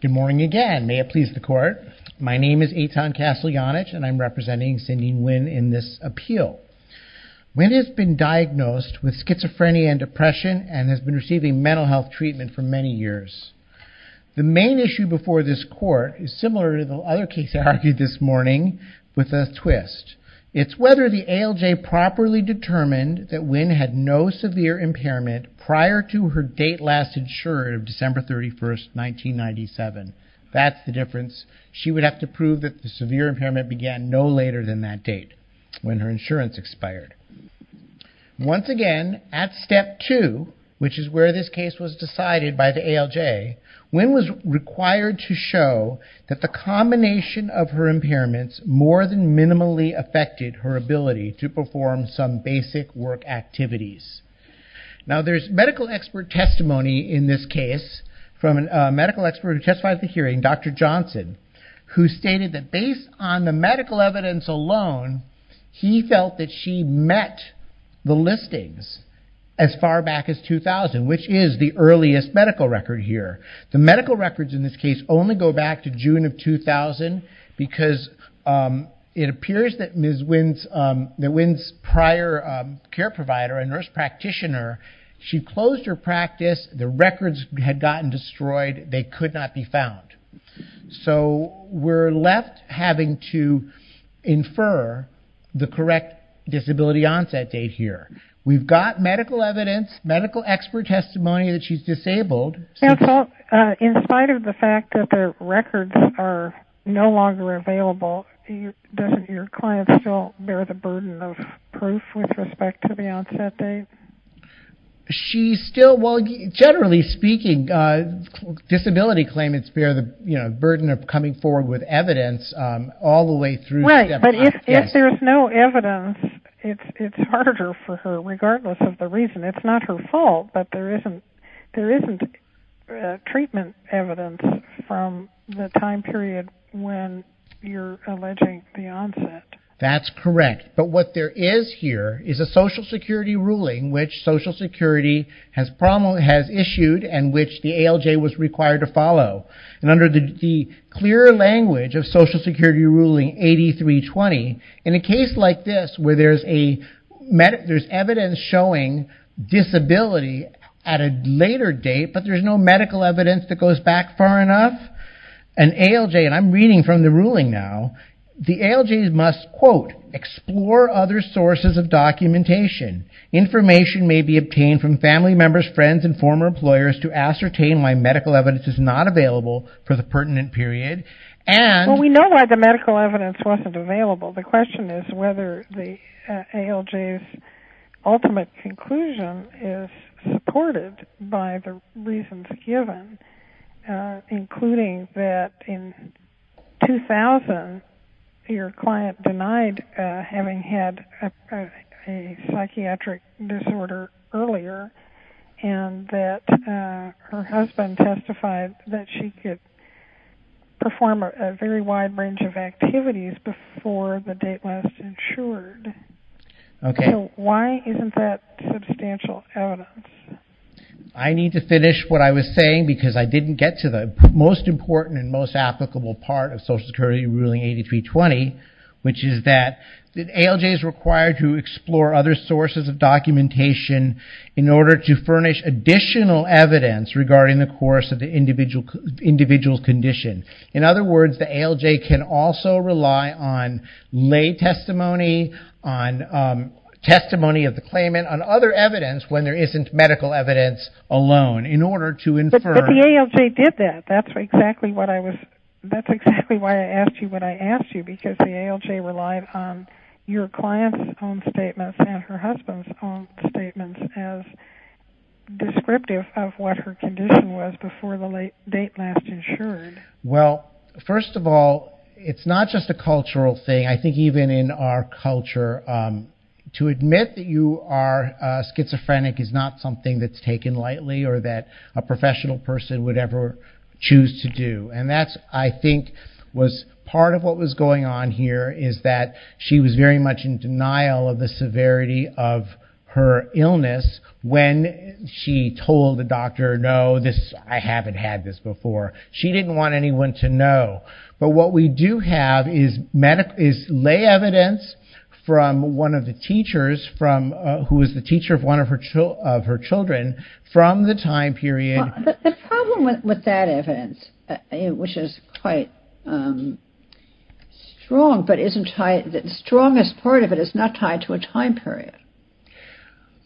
Good morning again. May it please the court. My name is Eitan Casteljanich and I'm representing Cindy Nguyen in this appeal. Nguyen has been diagnosed with schizophrenia and depression and has been receiving mental health treatment for many years. The main issue before this court is similar to the other case I argued this morning with a twist. It's whether the ALJ properly determined that Nguyen had no severe impairment prior to her date last insured of December 31st, 1997. That's the difference. She would have to prove that the severe impairment began no later than that date when her insurance expired. Once again, at step two, which is where this case was decided by the ALJ, Nguyen was required to show that the combination of her impairments more than minimally affected her ability to from a medical expert who testified at the hearing, Dr. Johnson, who stated that based on the medical evidence alone, he felt that she met the listings as far back as 2000, which is the earliest medical record here. The medical records in this case only go back to June of 2000 because it appears that Ms. Nguyen's prior care provider, a nurse practitioner, she closed her practice, the records had gotten destroyed, they could not be found. So we're left having to infer the correct disability onset date here. We've got medical evidence, medical expert testimony that she's disabled. Counsel, in spite of the fact that the records are no longer available, doesn't your client still bear the burden of proof with respect to the onset date? She's still, well, generally speaking, disability claimants bear the burden of coming forward with evidence all the way through. Right, but if there's no evidence, it's harder for her, regardless of the reason. It's not her fault, but there isn't treatment evidence from the time period when you're alleging the onset. That's correct, but what there is here is a Social Security ruling which Social Security has issued and which the ALJ was required to follow. Under the clear language of Social Security ruling 8320, in a case like this where there's evidence showing disability at a later date, but there's no medical evidence that goes back far enough, an ALJ, and I'm going to quote, explore other sources of documentation. Information may be obtained from family members, friends, and former employers to ascertain why medical evidence is not available for the pertinent period. We know why the medical evidence wasn't available. The question is whether the ALJ's ultimate conclusion is supported by the reasons given, including that in 2000, your client denied having had a psychiatric disorder earlier, and that her husband testified that she could perform a very wide range of activities before the date was ensured. So why isn't that substantial evidence? I need to finish what I was saying because I didn't get to the most important and most important part of that. The ALJ is required to explore other sources of documentation in order to furnish additional evidence regarding the course of the individual condition. In other words, the ALJ can also rely on lay testimony, on testimony of the claimant, on other evidence when there isn't medical evidence alone in order to infer. But the ALJ did that. That's exactly what I was, that's exactly why I asked you what your client's own statements and her husband's own statements as descriptive of what her condition was before the date last ensured. Well, first of all, it's not just a cultural thing. I think even in our culture, to admit that you are schizophrenic is not something that's taken lightly or that a professional person would ever choose to do. And that's, I think, was part of what was going on here is that she was very much in denial of the severity of her illness when she told the doctor, no, I haven't had this before. She didn't want anyone to know. But what we do have is lay evidence from one of the teachers, who was the teacher of one of her children, from the time period... The problem with that evidence, which is quite strong, but isn't tied, the strongest part of it is not tied to a time period,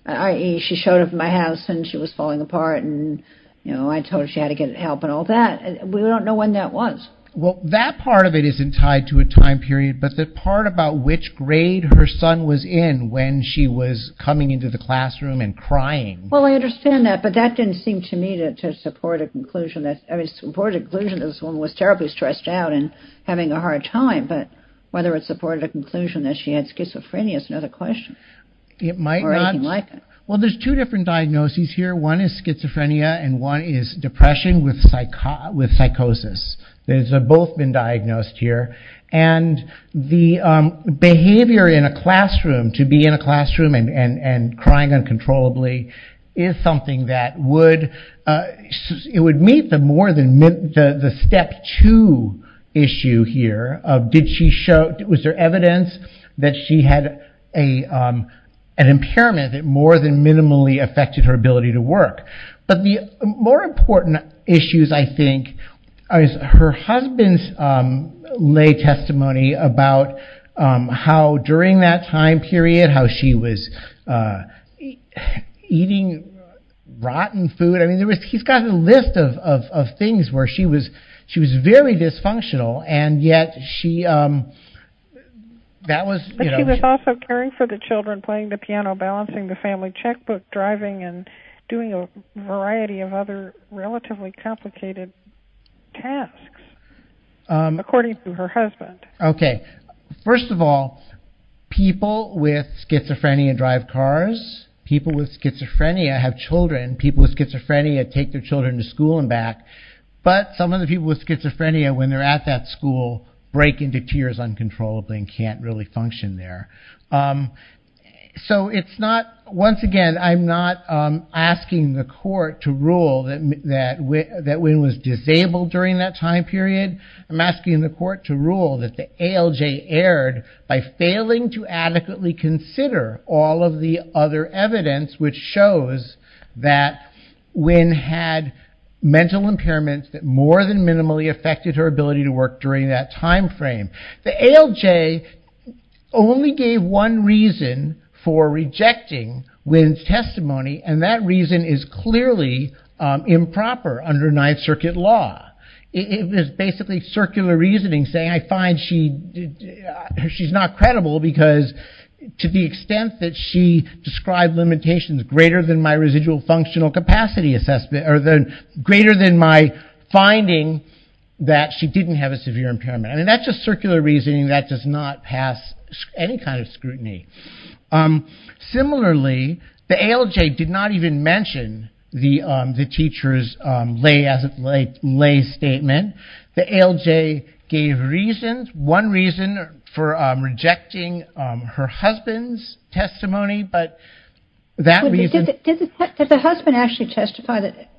i.e. she showed up at my house and she was falling apart and I told her she had to get help and all that. We don't know when that was. Well, that part of it isn't tied to a time period, but the part about which grade her son was in when she was coming into the classroom and crying... Well, I understand that, but that didn't seem to me to support a conclusion. I mean, it supported a conclusion that this woman was terribly stressed out and having a hard time, but whether it supported a conclusion that she had schizophrenia is another question. It might not... Or anything like it. Well, there's two different diagnoses here. One is schizophrenia and one is depression with psychosis. Those have both been diagnosed here. And the behavior in a classroom, to cry uncontrollably, is something that would... It would meet the more than... The step two issue here of did she show... Was there evidence that she had an impairment that more than minimally affected her ability to work? But the more important issues, I think, is her husband's lay testimony about how during that time period, how she was eating rotten food. I mean, he's got a list of things where she was very dysfunctional, and yet she... But she was also caring for the children, playing the piano, balancing the family checkbook, driving, and doing a variety of other relatively complicated tasks, according to her husband. Okay. First of all, people with schizophrenia drive cars. People with schizophrenia have children. People with schizophrenia take their children to school and back. But some of the people with schizophrenia, when they're at that school, break into tears uncontrollably and can't really function there. So it's not... Once again, I'm not asking the court to rule that Wynne was disabled during that time period. I'm asking the court to rule that the ALJ erred by failing to adequately consider all of the other evidence which shows that Wynne had mental impairments that more than minimally affected her ability to work during that time frame. The ALJ only gave one reason for rejecting Wynne's testimony, and that reason is clearly improper under Ninth Circuit law. It is basically circular reasoning, saying, I find she's not credible because, to the extent that she described limitations greater than my residual functional capacity assessment, or greater than my finding that she didn't have a severe impairment. And that's just circular reasoning. That does not pass any kind of scrutiny. Similarly, the ALJ did not even mention the teacher's lay statement. The ALJ gave reasons, one reason for rejecting her husband's testimony, but that reason... Did the husband actually testify that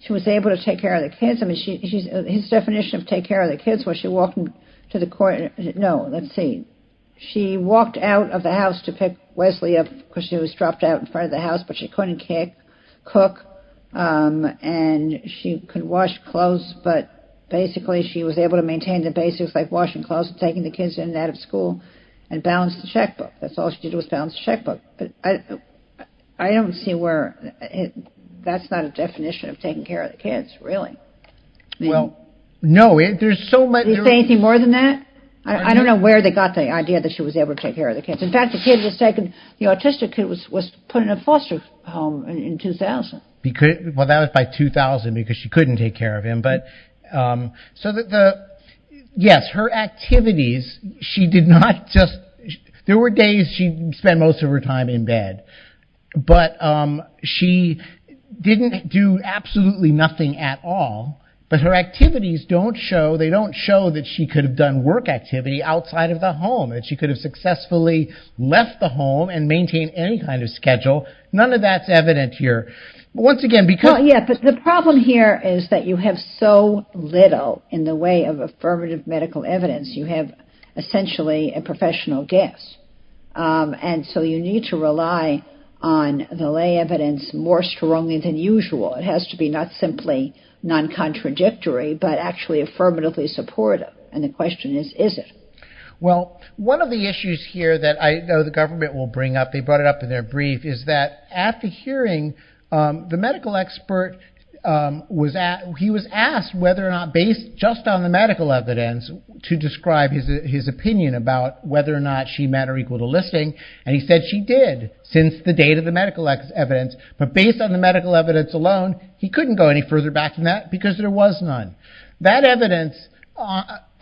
she was able to take care of the kids? His definition of take care of the kids, was she walking to the court? No, let's see. She walked out of the house to pick Wesley up, because she was dropped out in front of the house, but she couldn't cook, and she could wash clothes, but basically she was able to maintain the basics like washing clothes, taking the kids in and out of school, and balance the checkbook. That's all she did was balance the checkbook. I don't see where that's not a definition of taking care of the kids, really. Well, no, there's so much... Do you see anything more than that? I don't know where they got the idea that she was able to take care of the kids. In fact, the autistic kid was put in a foster home in 2000. That was by 2000, because she couldn't take care of him. Yes, her activities, she did not just... There were days she spent most of her time in bed, but she didn't do absolutely nothing at all, but her activities don't show, they don't show that she could have done work activity outside of the home, that she could have successfully left the home and maintained any kind of schedule. None of that's evident here. Well, yes, but the problem here is that you have so little in the way of affirmative medical evidence. You have essentially a professional guess, and so you need to rely on the lay evidence more strongly than usual. It has to be not simply non-contradictory, but actually consistent. Well, one of the issues here that I know the government will bring up, they brought it up in their brief, is that at the hearing, the medical expert was asked whether or not based just on the medical evidence to describe his opinion about whether or not she met or equal to listing, and he said she did since the date of the medical evidence, but based on the medical evidence alone, he couldn't go any further back than that because there was none. That evidence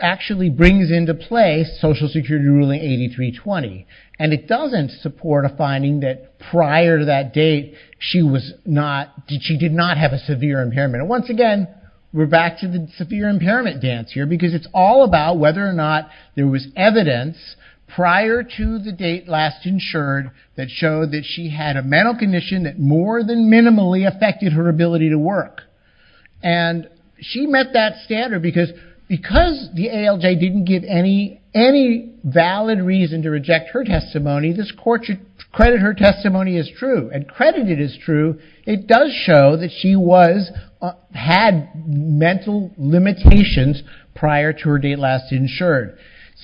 actually brings into play Social Security ruling 8320, and it doesn't support a finding that prior to that date, she did not have a severe impairment. Once again, we're back to the severe impairment dance here because it's all about whether or not there was evidence prior to the date last insured that showed that she had a mental condition that more than minimally affected her ability to work, and she met that standard because because the ALJ didn't give any valid reason to reject her testimony, this court should credit her testimony as true, and credit it as true, it does show that she had mental limitations prior to her date last insured.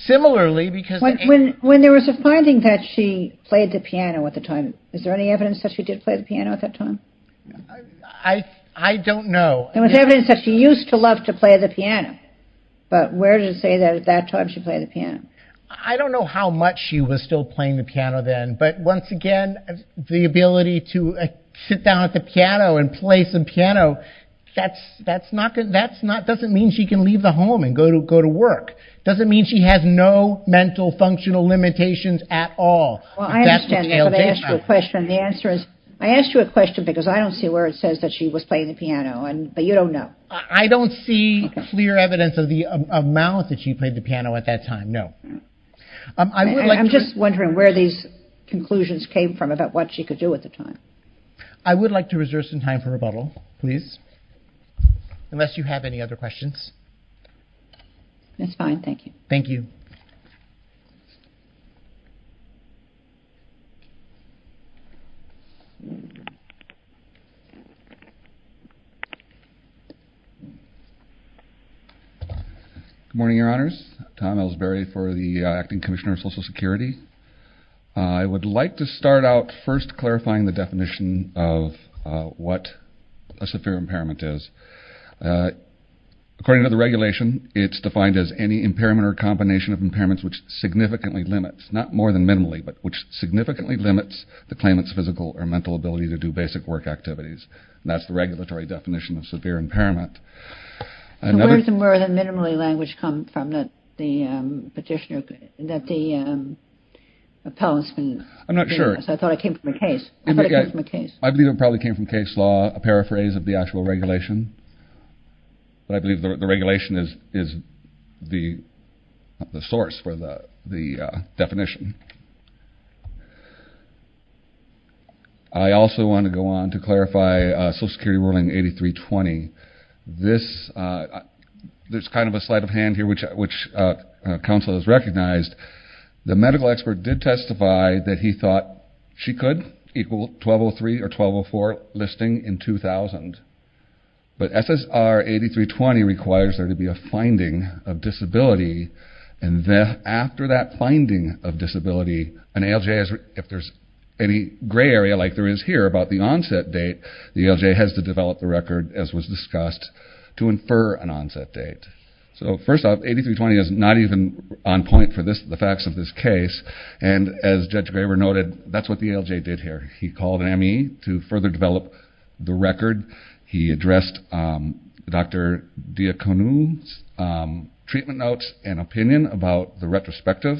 When there was a finding that she played the piano at the time, is there any evidence that she did play the piano at that time? I don't know. There was evidence that she used to love to play the piano, but where does it say that at that time she played the piano? I don't know how much she was still playing the piano then, but once again, the ability to sit down at the piano and play some piano, that doesn't mean she can leave the home and go to work, doesn't mean she has no mental functional limitations at all. I understand that, but I asked you a question because I don't see where it says that she was playing the piano, but you don't know. I don't see clear evidence of the amount that she played the piano at that time, no. I'm just wondering where these conclusions came from about what she could do at the time. I would like to reserve some time for rebuttal, please, unless you have any other questions. That's fine. Thank you. Thank you. Good morning, Your Honors. Tom Elsberry for the Acting Commissioner of Social Security. I would like to start out first clarifying the definition of what a severe impairment is. According to the regulation, it's defined as any impairment or combination of impairments which significantly limits, not more than minimally, but which significantly limits the claimant's physical or mental ability to do basic work activities. That's the regulatory definition of severe impairment. So where does the more than minimally language come from that the petitioner, that the appellant's been... I'm not sure. I thought it came from a case. I thought it came from a case. I believe it probably came from case law, a paraphrase of the actual regulation, but I believe the regulation is the source for the definition. I also want to go on to clarify Social Security Ruling 8320. There's kind of a sleight of hand here which counsel has recognized. The medical expert did testify that he thought she could equal 1203 or 1204 listing in 2000, but SSR 8320 requires there to be a finding of disability, and after that finding of disability, an ALJ, if there's any gray area like there is here about the onset date, the ALJ has to develop the record as was discussed to infer an onset date. So first off, 8320 is not even on point for the facts of this case, and as Judge Graber noted, that's what the ALJ did here. He called an M.E. to further develop the record. He addressed Dr. Diaconu's treatment notes and opinion about the retrospective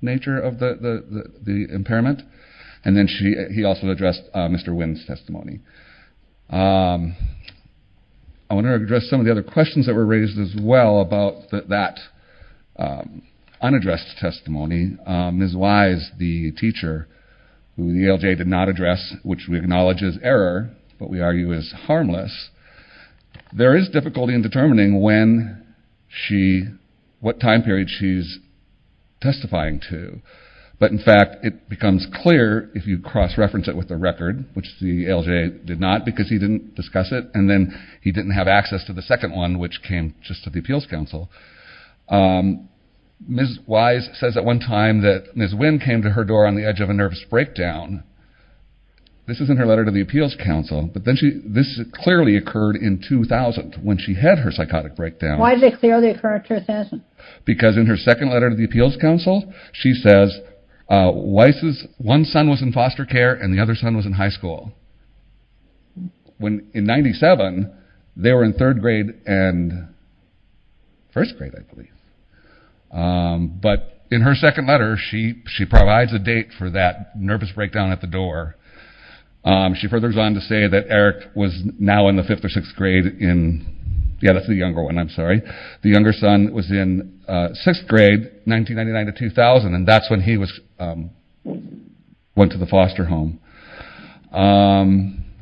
nature of the impairment, and then he also addressed Mr. Wynn's testimony. I want to address some of the other questions that were raised as well about that unaddressed testimony. Ms. Wise, the teacher, who the ALJ did not address, which we acknowledge is error, but we argue is harmless, there is difficulty in determining what time period she's testifying to. But, in fact, it becomes clear if you cross-reference it with the record, which the ALJ did not because he didn't discuss it, and then he didn't have access to the second one, which came just to the Appeals Council. Ms. Wise says at one time that Ms. Wynn came to her door on the edge of a nervous breakdown. This is in her letter to the Appeals Council, but this clearly occurred in 2000 when she had her psychotic breakdown. Why did it clearly occur in 2000? Because in her second letter to the Appeals Council, she says one son was in foster care and the other son was in high school. In 1997, they were in third grade and first grade, I believe. But in her second letter, she provides a date for that nervous breakdown at the door. She furthers on to say that Eric was now in the fifth or sixth grade in, yeah, that's the younger one, I'm sorry. The younger son was in sixth grade, 1999 to 2000, and that's when he went to the foster home.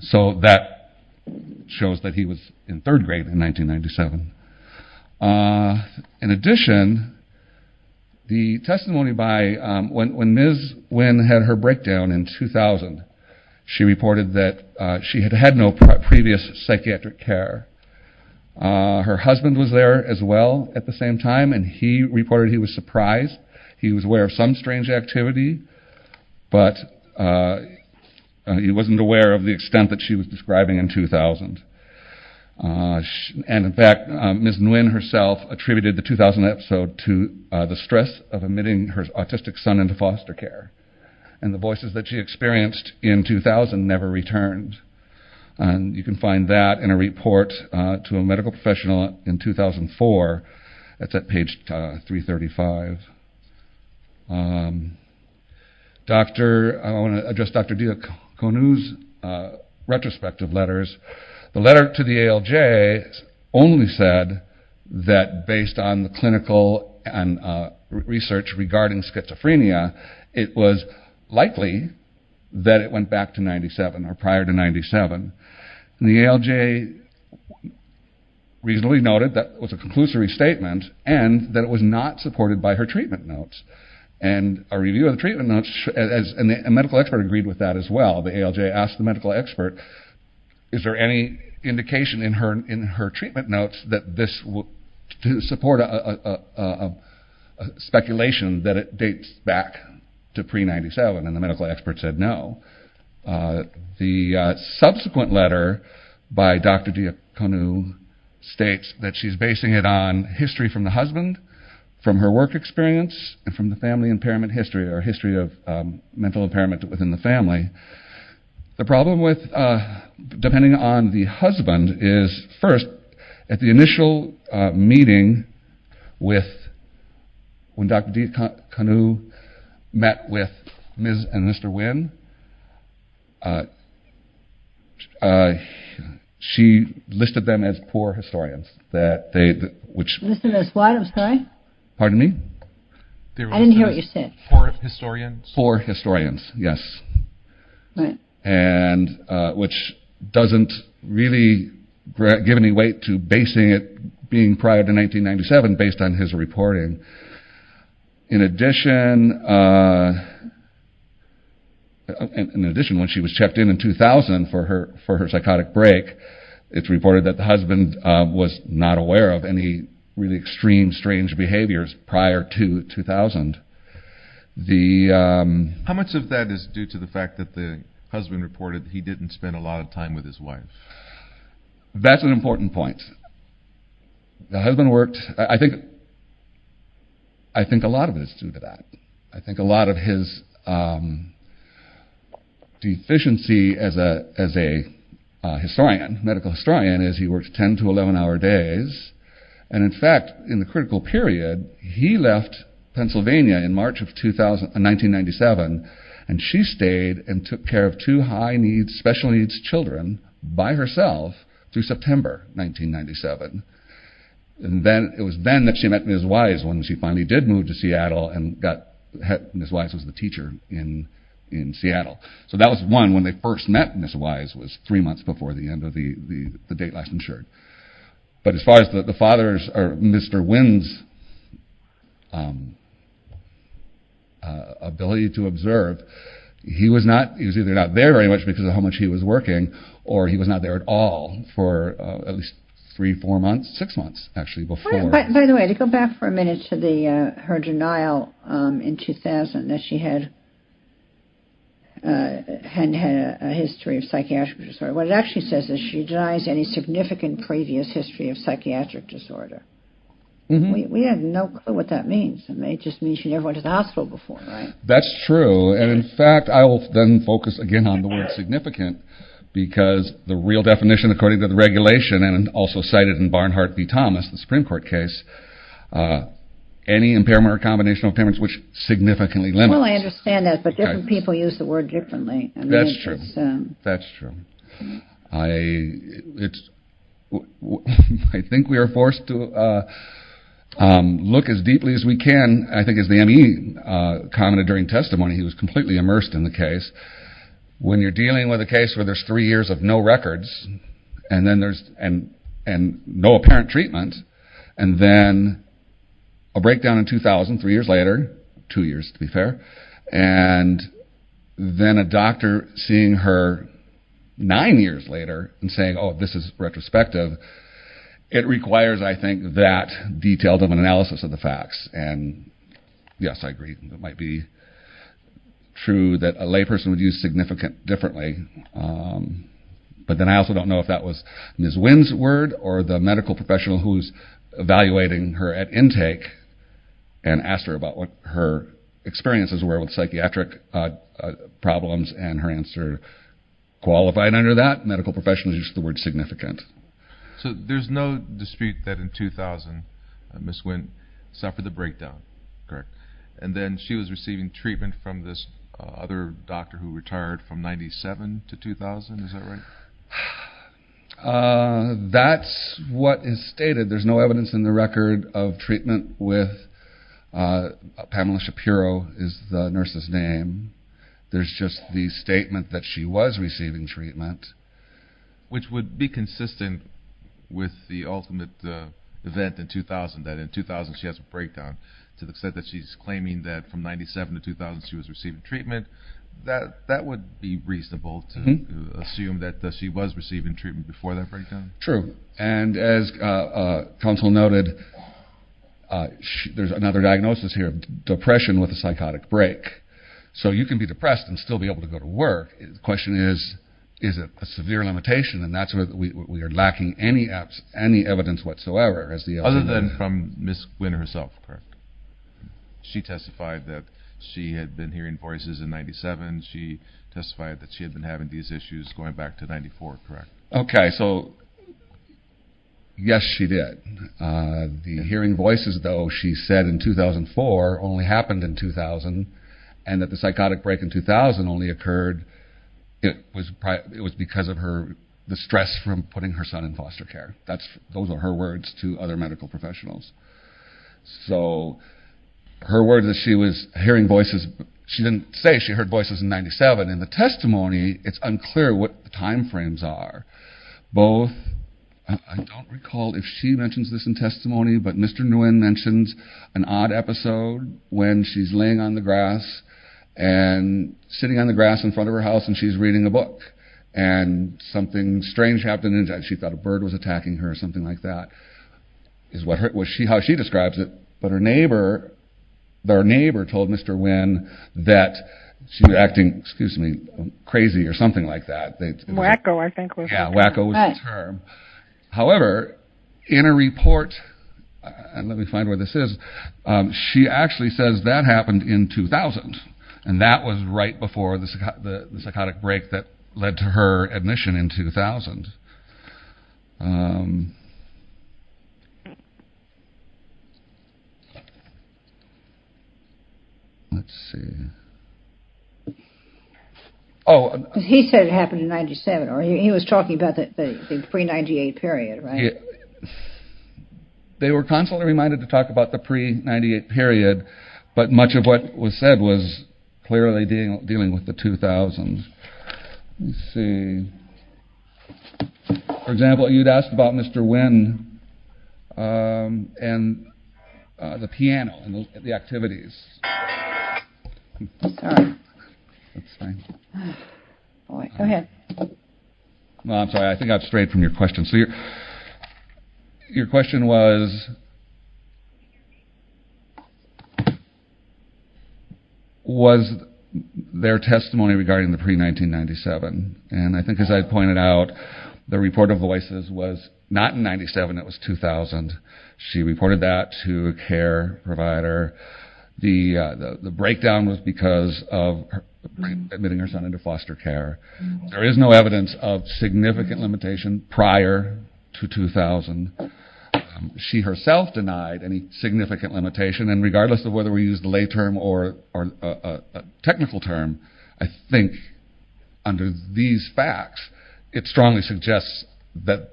So that shows that he was in third grade in 1997. In addition, the testimony by when Ms. Wynn had her breakdown in 2000, she reported that she had had no previous psychiatric care. Her husband was there as well at the same time, and he reported he was surprised. He was aware of some strange activity, but he wasn't aware of the extent that she was describing in 2000. And in fact, Ms. Wynn herself attributed the 2000 episode to the stress of admitting her autistic son into foster care. And the voices that she experienced in 2000 never returned. And you can find that in a report to a medical professional in 2004. That's at page 335. I want to address Dr. Diaconu's retrospective letters. The letter to the ALJ only said that based on the clinical research regarding schizophrenia, it was likely that it went back to 1997 or prior to 1997. And the ALJ reasonably noted that it was a conclusory statement and that it was not supported by her treatment notes. And a review of the treatment notes, and a medical expert agreed with that as well. The ALJ asked the medical expert, is there any indication in her treatment notes that this would support a speculation that it dates back to pre-97? And the medical expert said no. The subsequent letter by Dr. Diaconu states that she's basing it on history from the husband, from her work experience, and from the family impairment history, or history of mental impairment within the family. The problem with, depending on the husband, is first, at the initial meeting with, when Dr. Diaconu met with Ms. and Mr. Wynn, she listed them as poor historians. That they, which... Listed as what, I'm sorry? Pardon me? I didn't hear what you said. Poor historians? Poor historians, yes. Right. And which doesn't really give any weight to basing it being prior to 1997 based on his reporting. In addition, when she was checked in in 2000 for her psychotic break, it's reported that the husband was not aware of any really extreme, strange behaviors prior to 2000. The... How much of that is due to the fact that the husband reported he didn't spend a lot of time with his wife? That's an important point. The husband worked, I think a lot of it is due to that. I think a lot of his deficiency as a historian, medical historian, is he works 10 to 11 hour days. And in fact, in the critical period, he left Pennsylvania in March of 1997. And she stayed and took care of two high needs, special needs children by herself through September 1997. And then, it was then that she met Ms. Wise when she finally did move to Seattle and got... Ms. Wise was the teacher in Seattle. So that was one, when they first met Ms. Wise was three months before the end of the date last insured. But as far as the father's or Mr. Wynn's ability to observe, he was either not there very much because of how much he was working or he was not there at all for at least three, four months, six months actually before. By the way, to go back for a minute to her denial in 2000 that she had a history of psychiatric disorder. What it actually says is she denies any significant previous history of psychiatric disorder. We have no clue what that means. It just means she never went to the hospital before, right? That's true. And in fact, I will then focus again on the word significant because the real definition according to the regulation and also cited in Barnhart v. Thomas, the Supreme Court case, any impairment or combination of impairments which significantly limits... Well, I understand that, but different people use the word differently. That's true. That's true. I think we are forced to look as deeply as we can. I think as the M.E. commented during testimony, he was completely immersed in the case. When you're dealing with a case where there's three years of no records and then there's no apparent treatment and then a breakdown in 2000, three years later, two years to be fair, and then a doctor seeing her nine years later and saying, oh, this is retrospective, it requires, I think, that detailed of an analysis of the facts. And yes, I agree. It might be true that a layperson would use significant differently. But then I also don't know if that was Ms. Winn's word or the medical professional who's evaluating her at intake and asked her about what her experiences were with psychiatric problems and her answer qualified under that. Medical professionals used the word significant. So there's no dispute that in 2000, Ms. Winn suffered a breakdown, correct? And then she was receiving treatment from this other doctor who retired from 97 to 2000, is that right? That's what is stated. There's no evidence in the record of treatment with Pamela Shapiro is the nurse's name. There's just the statement that she was receiving treatment. Which would be consistent with the ultimate event in 2000, that in 2000 she has a breakdown to the extent that she's claiming that from 97 to 2000 she was receiving treatment. That would be reasonable to assume that she was receiving treatment before that breakdown. True. And as counsel noted, there's another diagnosis here, depression with a psychotic break. So you can be depressed and still be able to go to work. The question is, is it a severe limitation? And that's where we are lacking any evidence whatsoever. Other than from Ms. Winn herself, correct? She testified that she had been hearing voices in 97. She testified that she had been having these issues going back to 94, correct? Okay, so yes she did. The hearing voices, though, she said in 2004 only happened in 2000. And that the psychotic break in 2000 only occurred because of the stress from putting her son in foster care. Those are her words to other medical professionals. So her words that she was hearing voices, she didn't say she heard voices in 97. In the testimony, it's unclear what the time frames are. Both, I don't recall if she mentions this in testimony, but Mr. Nguyen mentions an odd episode when she's laying on the grass and sitting on the grass in front of her house and she's reading a book. And something strange happened. She thought a bird was attacking her or something like that is how she describes it. But her neighbor told Mr. Nguyen that she was acting, excuse me, crazy or something like that. Wacko I think was the term. However, in a report, let me find where this is, she actually says that happened in 2000. And that was right before the psychotic break that led to her admission in 2000. Let's see. He said it happened in 97. He was talking about the pre-98 period, right? They were constantly reminded to talk about the pre-98 period, but much of what was said was clearly dealing with the 2000s. Let's see. For example, you'd asked about Mr. Nguyen and the piano and the activities. Sorry. That's fine. Go ahead. I'm sorry, I think I've strayed from your question. Your question was, was there testimony regarding the pre-1997? And I think as I pointed out, the report of voices was not in 97, it was 2000. She reported that to a care provider. The breakdown was because of admitting her son into foster care. There is no evidence of significant limitation prior to 2000. She herself denied any significant limitation, and regardless of whether we use the lay term or a technical term, I think under these facts, it strongly suggests that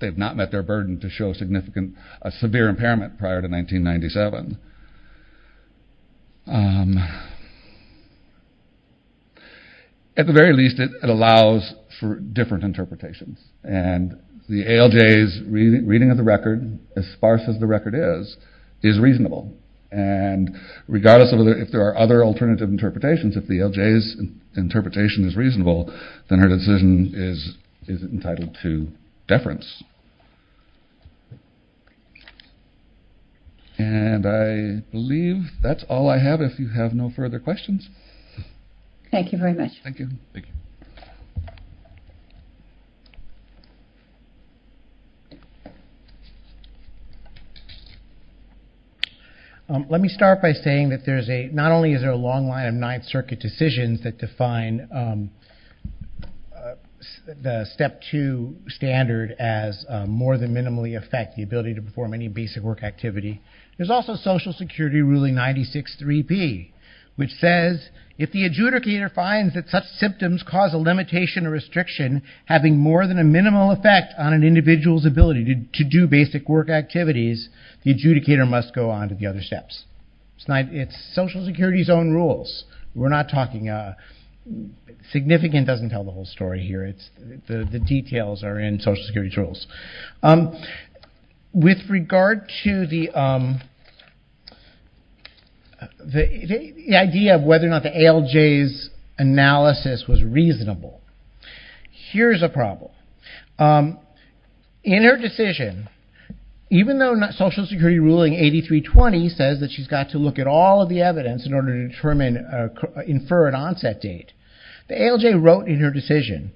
they've not met their burden to show a severe impairment prior to 1997. At the very least, it allows for different interpretations. And the ALJ's reading of the record, as sparse as the record is, is reasonable. And regardless of if there are other alternative interpretations, if the ALJ's interpretation is reasonable, then her decision is entitled to deference. And I believe that's all I have, if you have no further questions. Thank you very much. Thank you. Thank you. Let me start by saying that not only is there a long line of Ninth Circuit decisions that define the Step 2 standard as more than minimally affect the ability to perform any basic work activity. There's also Social Security ruling 96-3P, which says, if the adjudicator finds that such symptoms cause a limitation or restriction having more than a minimal effect on an individual's ability to do basic work activities, the adjudicator must go on to the other steps. It's Social Security's own rules. We're not talking significant doesn't tell the whole story here. The details are in Social Security's rules. With regard to the idea of whether or not the ALJ's analysis was reasonable, here's a problem. In her decision, even though Social Security ruling 83-20 says that she's got to look at all of the evidence in order to infer an onset date, the ALJ wrote in her decision,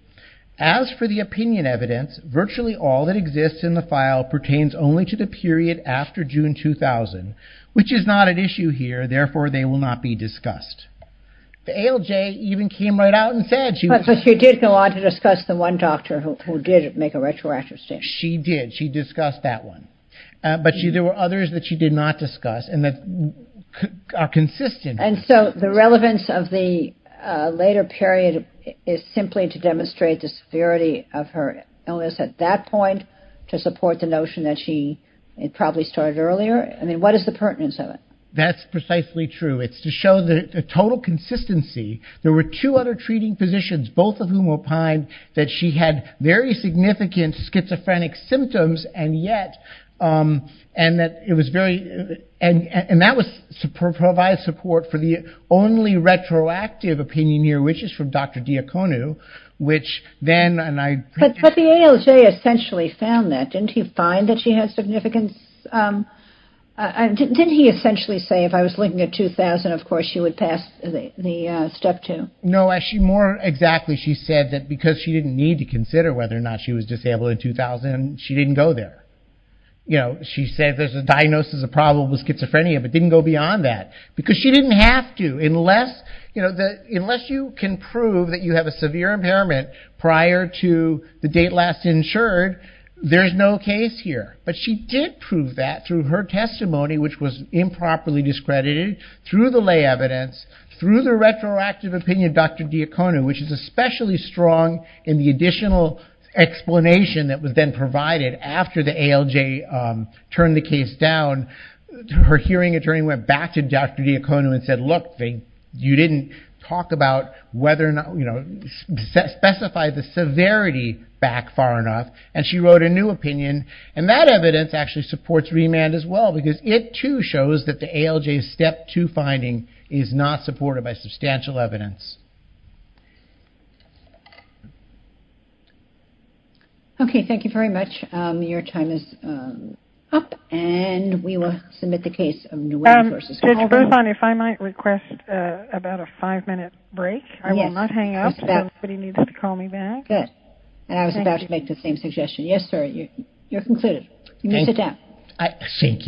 as for the opinion evidence, virtually all that exists in the file pertains only to the period after June 2000, which is not an issue here, therefore they will not be discussed. The ALJ even came right out and said... But she did go on to discuss the one doctor who did make a retroactive statement. She did. She discussed that one. But there were others that she did not discuss and that are consistent. And so the relevance of the later period is simply to demonstrate the severity of her illness at that point, to support the notion that she probably started earlier? I mean, what is the pertinence of it? That's precisely true. It's to show the total consistency. There were two other treating physicians, both of whom opined that she had very significant schizophrenic symptoms and yet... And that was to provide support for the only retroactive opinion here, which is from Dr. Diaconu, which then... But the ALJ essentially found that. Didn't he find that she had significant... Didn't he essentially say, if I was looking at 2000, of course, she would pass the Step 2? No, more exactly, she said that because she didn't need to consider whether or not she was disabled in 2000, she didn't go there. She said there's a diagnosis of probable schizophrenia, but didn't go beyond that, because she didn't have to. Unless you can prove that you have a severe impairment prior to the date last insured, there's no case here. But she did prove that through her testimony, which was improperly discredited, through the lay evidence, through the retroactive opinion of Dr. Diaconu, which is especially strong in the additional explanation that was then provided after the ALJ turned the case down. Her hearing attorney went back to Dr. Diaconu and said, look, you didn't talk about whether or not... specify the severity back far enough, and she wrote a new opinion. And that evidence actually supports remand as well, because it too shows that the ALJ's Step 2 finding is not supported by substantial evidence. Okay, thank you very much. Your time is up, and we will submit the case. Judge Boothorn, if I might request about a five-minute break. I will not hang up. Somebody needs to call me back. And I was about to make the same suggestion. Yes, sir, you're concluded. You may sit down. Thank you.